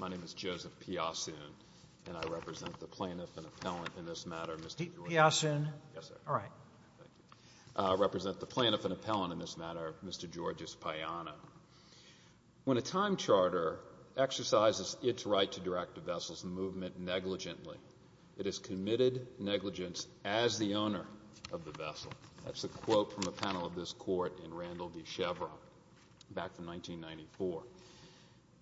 My name is Joseph Piasun, and I represent the plaintiff and appellant in this matter, Mr. Payano. I represent the plaintiff and appellant in this matter, Mr. Georges Payano. When a time charter exercises its right to direct a vessel's movement negligently, it is committed negligence as the owner of the vessel. That's a quote from a panel of this court in Randall v. Chevron, back from 1994.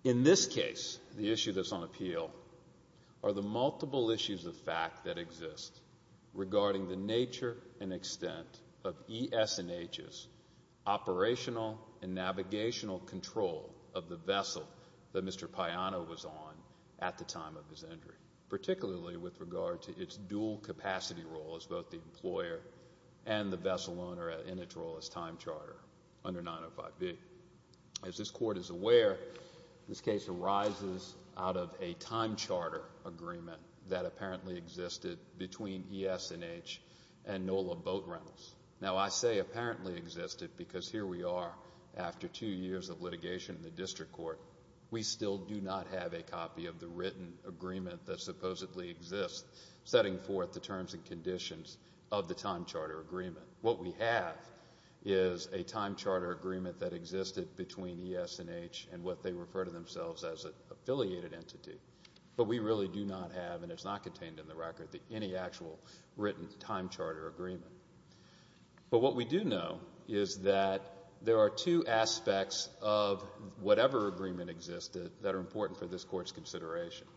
In this case, the issue that's on appeal are the multiple issues of fact that exist regarding the nature and extent of ES&H's operational and navigational control of the vessel that Mr. Payano was on at the time of his injury, particularly with regard to its dual capacity role as both the employer and the vessel owner in its role as time charter under 905B. As this court is aware, this case arises out of a time charter agreement that apparently existed between ES&H and NOLA Boat Rentals. Now, I say apparently existed because here we are after two years of litigation in the district court. We still do not have a copy of the written agreement that supposedly exists setting forth the terms and conditions of the time charter agreement. What we have is a time charter agreement that existed between ES&H and what they refer to themselves as an affiliated entity. But we really do not have, and it's not contained in the record, any actual written time charter agreement. But what we do know is that there are two aspects of whatever agreement existed that are important for this court's consideration.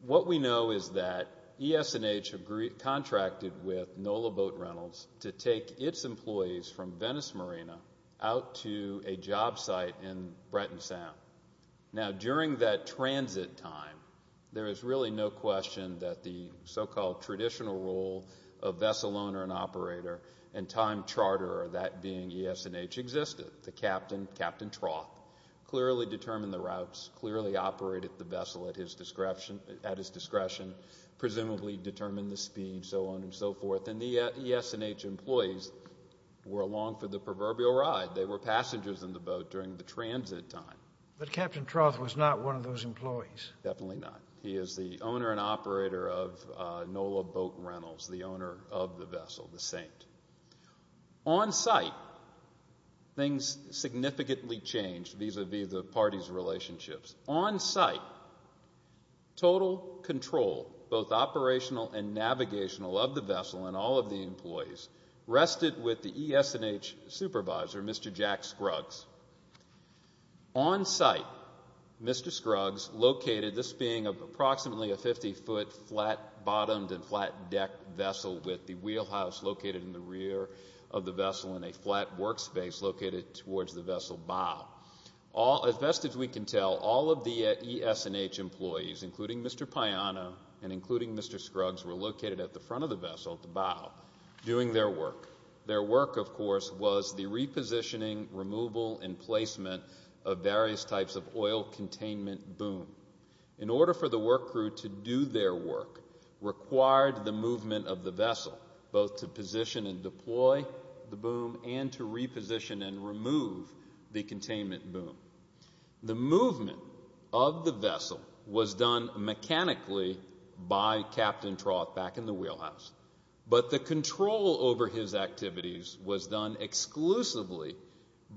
What we know is that ES&H contracted with NOLA Boat Rentals to take its employees from Venice Marina out to a job site in Breton Sound. Now, during that transit time, there is really no question that the so-called traditional role of vessel owner and operator and time charter, that being ES&H, existed. The captain, Captain Troth, clearly determined the routes, clearly operated the vessel at his discretion, presumably determined the speed, so on and so forth. And the ES&H employees were along for the proverbial ride. They were passengers in the boat during the transit time. But Captain Troth was not one of those employees. Definitely not. He is the owner and operator of NOLA Boat Rentals, the owner of the vessel, the Saint. On site, things significantly changed vis-à-vis the parties' relationships. On site, total control, both operational and navigational, of the vessel and all of the employees rested with the ES&H supervisor, Mr. Jack Scruggs. On site, Mr. Scruggs located this being approximately a 50-foot flat-bottomed and flat-deck vessel with the wheelhouse located in the rear of the vessel and a flat workspace located towards the vessel bow. As best as we can tell, all of the ES&H employees, including Mr. Payano and including Mr. Scruggs, were located at the front of the vessel, the bow, doing their work. Their work, of course, was the repositioning, removal, and placement of various types of oil containment boom. In order for the work crew to do their work, required the movement of the vessel, both to position and deploy the boom and to reposition and remove the containment boom. The movement of the vessel was done mechanically by Captain Troth back in the wheelhouse, but the control over his activities was done exclusively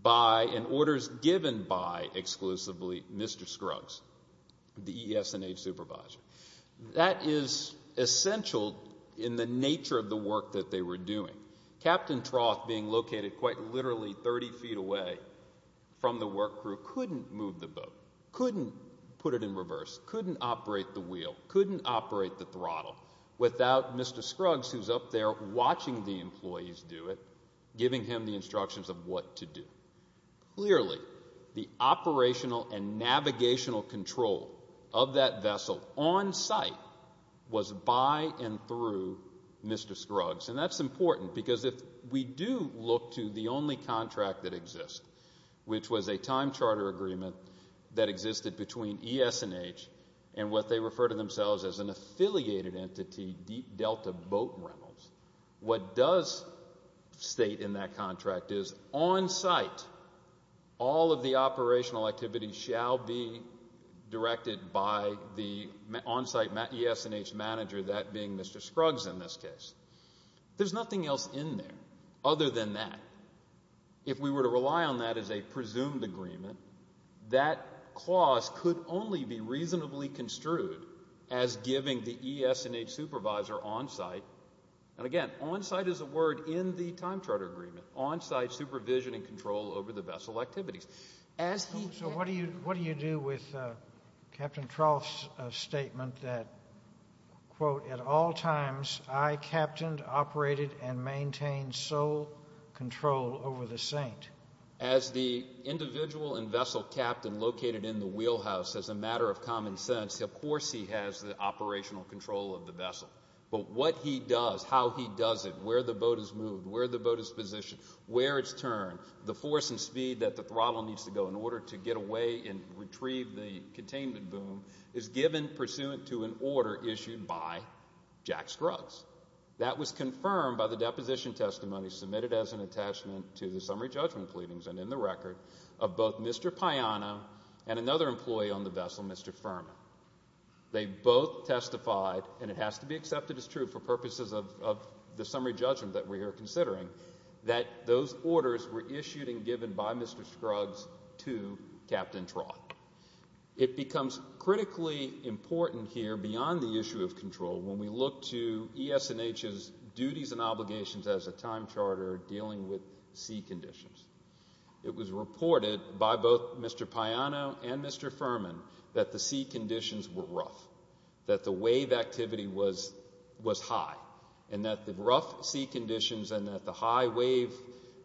by and orders given by exclusively Mr. Scruggs. The ES&H supervisor. That is essential in the nature of the work that they were doing. Captain Troth, being located quite literally 30 feet away from the work crew, couldn't move the boat, couldn't put it in reverse, couldn't operate the wheel, couldn't operate the throttle without Mr. Scruggs, who's up there watching the employees do it, giving him the instructions of what to do. Clearly, the operational and navigational control of that vessel on site was by and through Mr. Scruggs. And that's important, because if we do look to the only contract that exists, which was a time charter agreement that existed between ES&H and what they refer to themselves as an affiliated entity, Deep Delta Boat Rentals, what does state in that contract is, on site, all of the operational activities shall be directed by the on site ES&H manager, that being Mr. Scruggs in this case. There's nothing else in there other than that. If we were to rely on that as a presumed agreement, that clause could only be reasonably construed as giving the ES&H supervisor on site, and again, on site is a word in the time charter agreement, on site supervision and control over the vessel activities. So what do you do with Captain Troth's statement that, quote, at all times, I captained, operated, and maintained sole control over the Saint? As the individual and vessel captain located in the wheelhouse, as a matter of common sense, of course he has the operational control of the vessel. But what he does, how he does it, where the boat is moved, where the boat is positioned, where it's turned, the force and speed that the throttle needs to go in order to get away and retrieve the containment boom, is given pursuant to an order issued by Jack Scruggs. That was confirmed by the deposition testimony submitted as an attachment to the summary judgment pleadings and in the record of both Mr. Piana and another employee on the vessel, Mr. Furman. They both testified, and it has to be accepted as true for purposes of the summary judgment that we are considering, that those orders were issued and given by Mr. Scruggs to Captain Trott. It becomes critically important here beyond the issue of control when we look to ES&H's duties and obligations as a time charter dealing with sea conditions. It was reported by both Mr. Piana and Mr. Furman that the sea conditions were rough, that the wave activity was high, and that the rough sea conditions and that the high wave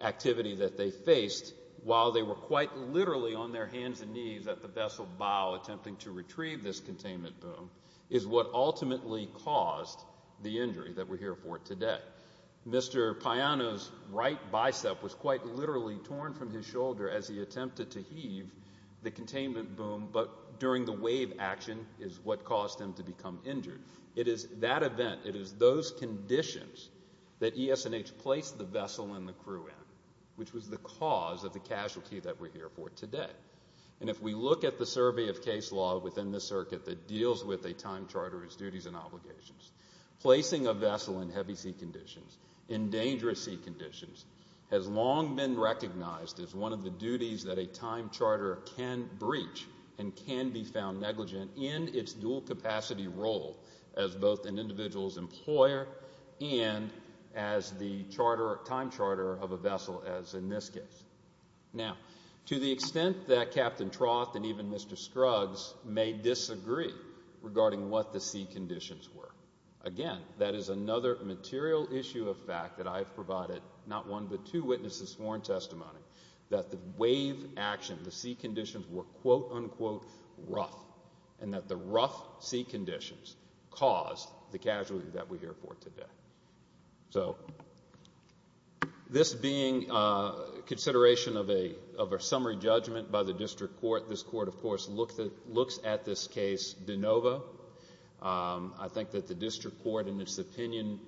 activity that they faced, while they were quite literally on their hands and knees at the vessel bow attempting to retrieve this containment boom, is what ultimately caused the injury that we're here for today. Mr. Piana's right bicep was quite literally torn from his shoulder as he attempted to heave the containment boom, but during the wave action is what caused him to become injured. It is that event, it is those conditions that ES&H placed the vessel and the crew in, which was the cause of the casualty that we're here for today. And if we look at the survey of case law within the circuit that deals with a time charter's duties and obligations, placing a vessel in heavy sea conditions, in dangerous sea conditions, has long been recognized as one of the duties that a time charter can breach and can be found negligent in its dual capacity role as both an individual's employer and as the time charter of a vessel, as in this case. Now, to the extent that Captain Troth and even Mr. Scruggs may disagree regarding what the sea conditions were, again, that is another material issue of fact that I have provided not one, but two witnesses sworn testimony that the wave action, the sea conditions, were quote, unquote, rough, and that the rough sea conditions caused the casualty that we're here for today. So, this being consideration of a summary judgment by the district court, this court, of course, looks at this case de novo. I think that the district court, in its opinion,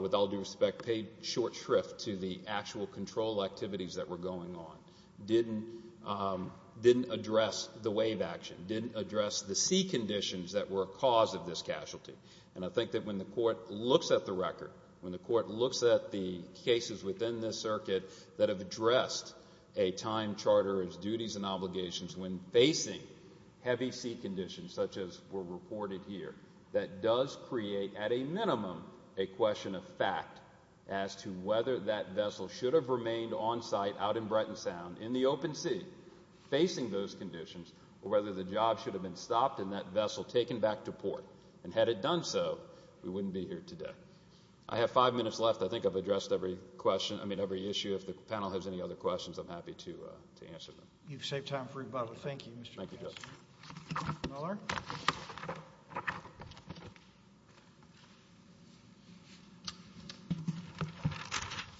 with all due respect, paid short shrift to the actual control activities that were going on, didn't address the wave action, didn't address the sea conditions that were a cause of this casualty. And I think that when the court looks at the cases within this circuit that have addressed a time charter as duties and obligations when facing heavy sea conditions, such as were reported here, that does create, at a minimum, a question of fact as to whether that vessel should have remained on site, out in Breton Sound, in the open sea, facing those conditions, or whether the job should have been stopped and that vessel taken back to port. And had it done so, there are five minutes left. I think I've addressed every question, I mean, every issue. If the panel has any other questions, I'm happy to answer them. You've saved time for rebuttal. Thank you, Mr. McMaster. Thank you, Judge.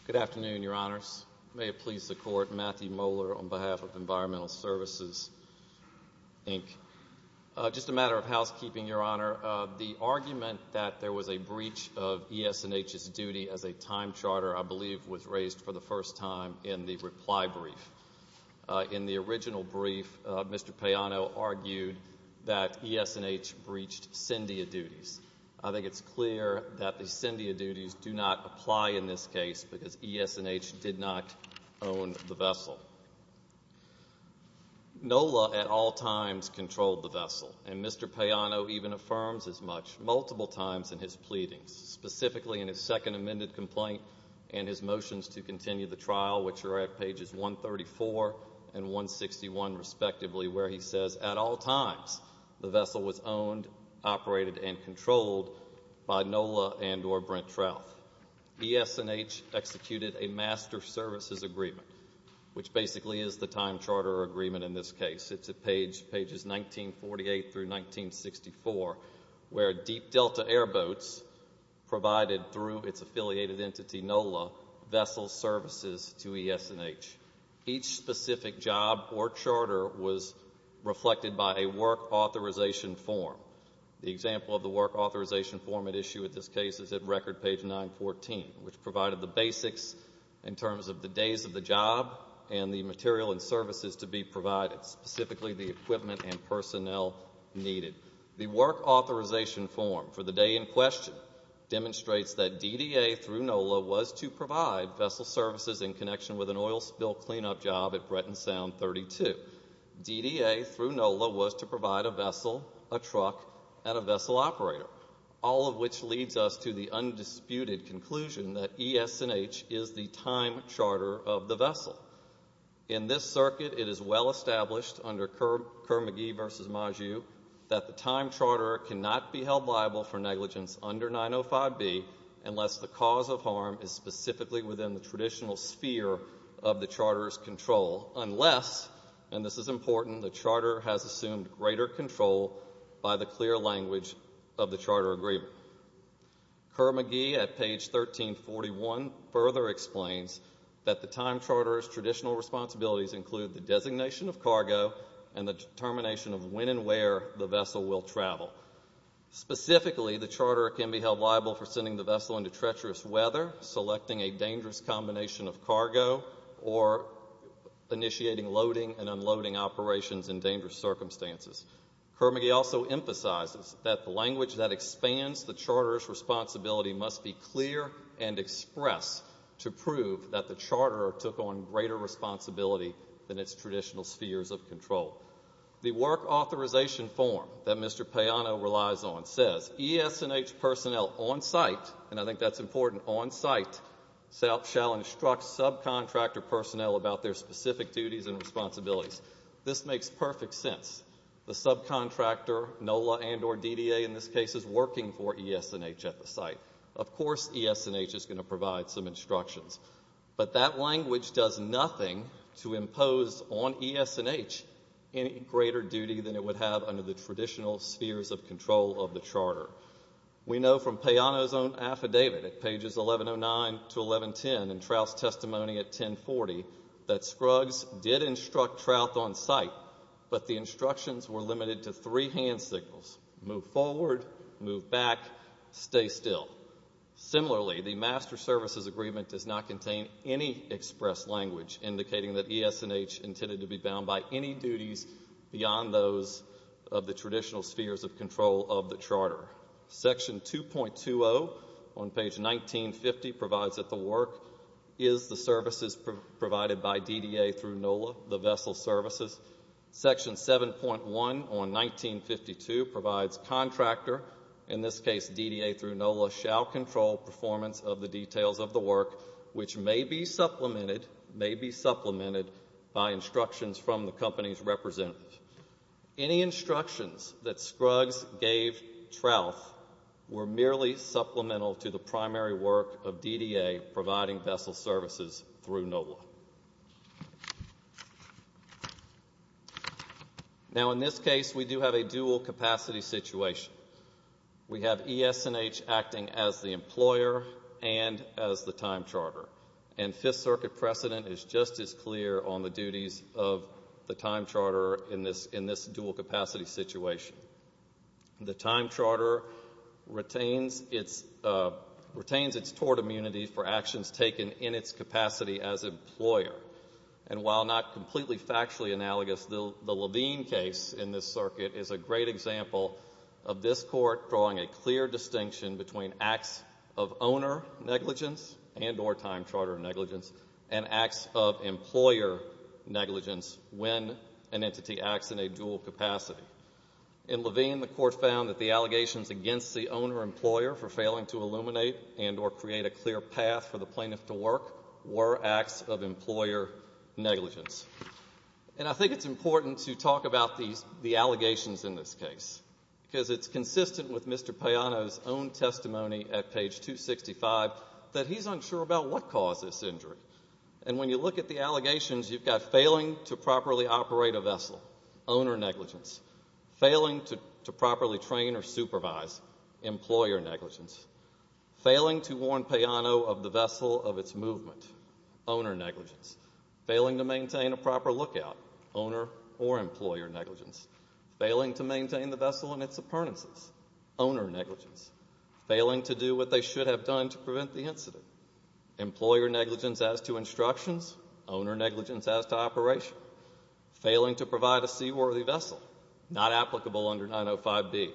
Good afternoon, Your Honors. May it please the Court, Matthew Moeller, on behalf of Environmental Services, Inc. Just a matter of housekeeping, Your Honor. The argument that there was a breach of ES&H's duty as a time charter, I believe, was raised for the first time in the reply brief. In the original brief, Mr. Payano argued that ES&H breached CINDIA duties. I think it's clear that the CINDIA duties do not apply in this case because ES&H did not own the vessel. NOLA, at all times, controlled the vessel, and Mr. Payano even affirms as much, multiple times in his pleadings. Specifically in his second amended complaint and his motions to continue the trial, which are at pages 134 and 161, respectively, where he says, at all times, the vessel was owned, operated, and controlled by NOLA and or Brent Trouth. ES&H executed a master services agreement, which basically is the time charter agreement in this case. It's at pages 1948 through 1964, where Deep Delta Airboats provided through its affiliated entity, NOLA, vessel services to ES&H. Each specific job or charter was reflected by a work authorization form. The example of the work authorization form at issue at this case is at record page 914, which provided the basics in terms of the days of the job and the material and services to be provided, specifically the equipment and personnel needed. The work authorization form for the day in question demonstrates that DDA through NOLA was to provide vessel services in connection with an oil spill cleanup job at Bretton Sound 32. DDA through NOLA was to provide a vessel, a truck, and a vessel operator, all of which leads us to the undisputed conclusion that ES&H is the time charter of the vessel. In this circuit, it is well established under Kerr-McGee v. Maju that the time charter cannot be held liable for negligence under 905B unless the cause of harm is specifically within the traditional sphere of the charter's control, unless, and this is important, the charter has assumed greater control by the clear language of the charter agreement. Kerr-McGee at page 1341 further explains that the time charter's traditional responsibilities include the designation of cargo and where the vessel will travel. Specifically, the charter can be held liable for sending the vessel into treacherous weather, selecting a dangerous combination of cargo, or initiating loading and unloading operations in dangerous circumstances. Kerr-McGee also emphasizes that the language that expands the charter's responsibility must be clear and express to prove that the charter took on greater responsibility than it would have under the existing form that Mr. Payano relies on, says ES&H personnel on site, and I think that's important, on site shall instruct subcontractor personnel about their specific duties and responsibilities. This makes perfect sense. The subcontractor, NOLA and or DDA in this case, is working for ES&H at the site. Of course ES&H is going to provide some instructions, but not to the traditional spheres of control of the charter. We know from Payano's own affidavit at pages 1109 to 1110 in Trout's testimony at 1040 that Scruggs did instruct Trout on site, but the instructions were limited to three hand signals, move forward, move back, stay still. Similarly, the master services agreement does not contain any express language indicating that ES&H intended to be bound by any duties of the traditional spheres of control of the charter. Section 2.20 on page 1950 provides that the work is the services provided by DDA through NOLA, the vessel services. Section 7.1 on 1952 provides contractor, in this case DDA through NOLA, shall control performance of the details of the work which may be supplemented by instructions from the company's representative. The instructions that Scruggs gave Trout were merely supplemental to the primary work of DDA providing vessel services through NOLA. Now, in this case, we do have a dual capacity situation. We have ES&H acting as the employer and as the time charter, and Fifth Circuit precedent is just as clear on the duties of the time charter in this situation. The time charter retains its tort immunity for actions taken in its capacity as employer, and while not completely factually analogous, the Levine case in this circuit is a great example of this court drawing a clear distinction between acts of owner negligence and or time charter negligence and acts of employer negligence when an entity acts in a dual capacity. In Levine, the court found that the allegations against the owner-employer for failing to illuminate and or create a clear path for the plaintiff to work were acts of employer negligence. And I think it's important to talk about the allegations in this case because it's consistent with Mr. Payano's own testimony at page 265 that he's unsure about what caused this injury, and when you look at the allegations, you've got failing to properly operate a vessel, owner negligence, failing to properly train or supervise, employer negligence, failing to warn Payano of the vessel of its movement, owner negligence, failing to maintain a proper lookout, owner or employer negligence, failing to maintain the vessel and its appurtenances, owner negligence, failing to do what they should have done to prevent the incident, employer negligence as to instructions, owner negligence as to operation, failing to provide a seaworthy vessel, not applicable under 905B,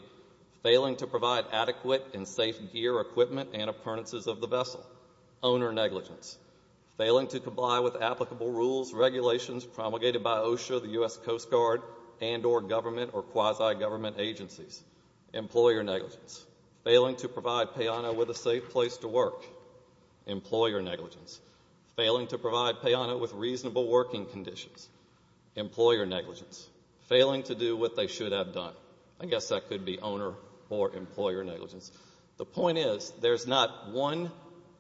failing to provide adequate and safe gear, equipment, and appurtenances of the vessel, owner negligence, failing to comply with applicable rules, regulations promulgated by OSHA, the U.S. Coast Guard, and or government or quasi-government agencies, employer negligence, failing to provide Payano with a safe place to work, employer negligence, failing to provide Payano with reasonable working conditions, employer negligence, failing to do what they should have done. I guess that could be owner or employer negligence. The point is, there's not one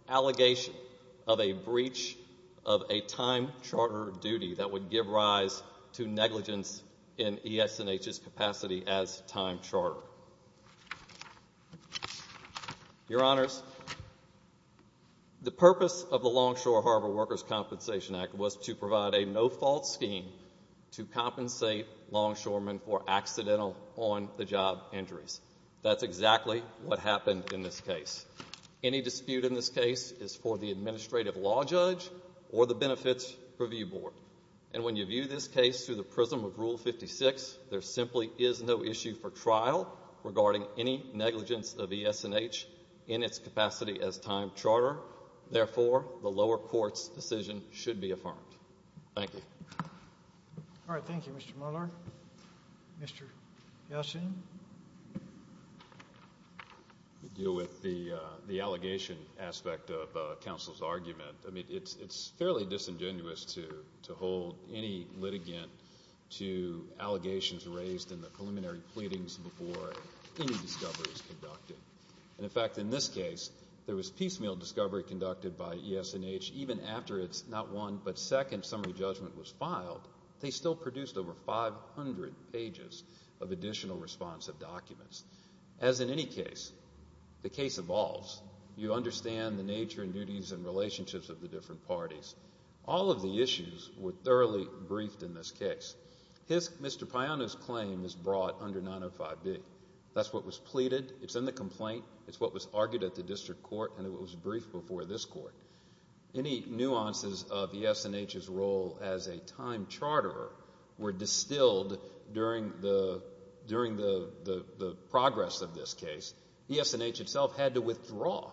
allegation of a breach of a time charter duty that would give rise to negligence in ES&H's capacity as time charter. Your Honors, the purpose of the Longshore Harbor Workers' Compensation Act was to provide a no-fault scheme to compensate longshoremen for accidental on-the-job injuries. That's exactly what happened in this case. Any dispute in this case is for the administrative law judge or the benefits review board. And when you view this case through the prism of Rule 56, there simply is no issue for trial regarding any negligence of ES&H in its capacity as time charter. Therefore, the lower court's decision should be affirmed. Thank you. All right, thank you, Mr. Mueller. Mr. Yelchin? I'll deal with the allegation aspect of counsel's argument. I mean, it's fairly disingenuous to hold any litigant to allegations raised in the preliminary pleadings before any discovery is conducted. And in fact, in this case, there was piecemeal discovery conducted by ES&H even after its not one, but second summary judgment was filed. They still produced over 500 pages of additional responsive documents. As in any case, the case evolves. You understand the nature and duties and relationships of the different parties. All of the issues were thoroughly briefed in this case. Mr. Payano's claim is brought under 905B. That's what was pleaded. It's in the complaint. It's what was argued at the district court and it was briefed before this court. Any nuances of ES&H's role as a time charterer were distilled during the progress of this case. ES&H itself had to withdraw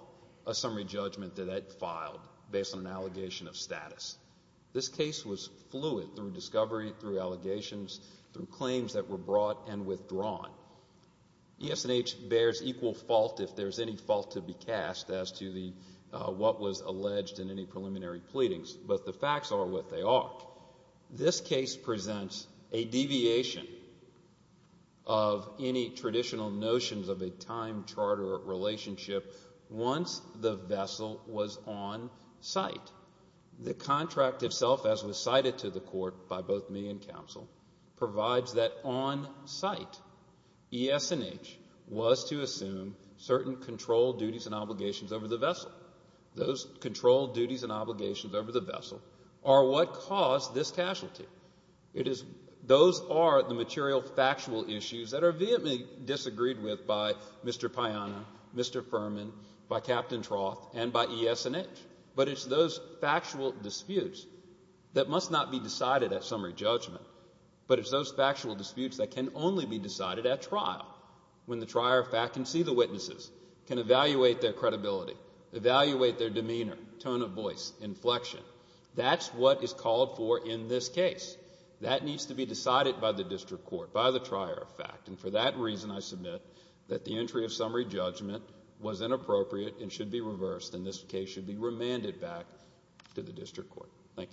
a summary judgment that it filed based on an allegation of status. This case was fluid through discovery, through allegations, through claims that were brought and withdrawn. ES&H bears equal fault if there's any fault to be cast as to what was alleged in any preliminary pleadings, but the case has a relationship once the vessel was on site. The contract itself, as was cited to the court by both me and counsel, provides that on site ES&H was to assume certain control duties and obligations over the vessel. Those control duties and obligations over the vessel to be determined by the district court and by ES&H. It is those factual disputes that must not be decided at summary judgment but can only be decided at trial. That is what is called for in this case. That needs to be decided by the district court. For that reason, I submit that the entry of summary judgment was inappropriate and should be reversed and this case should be remanded back to the district court. Thank you very much.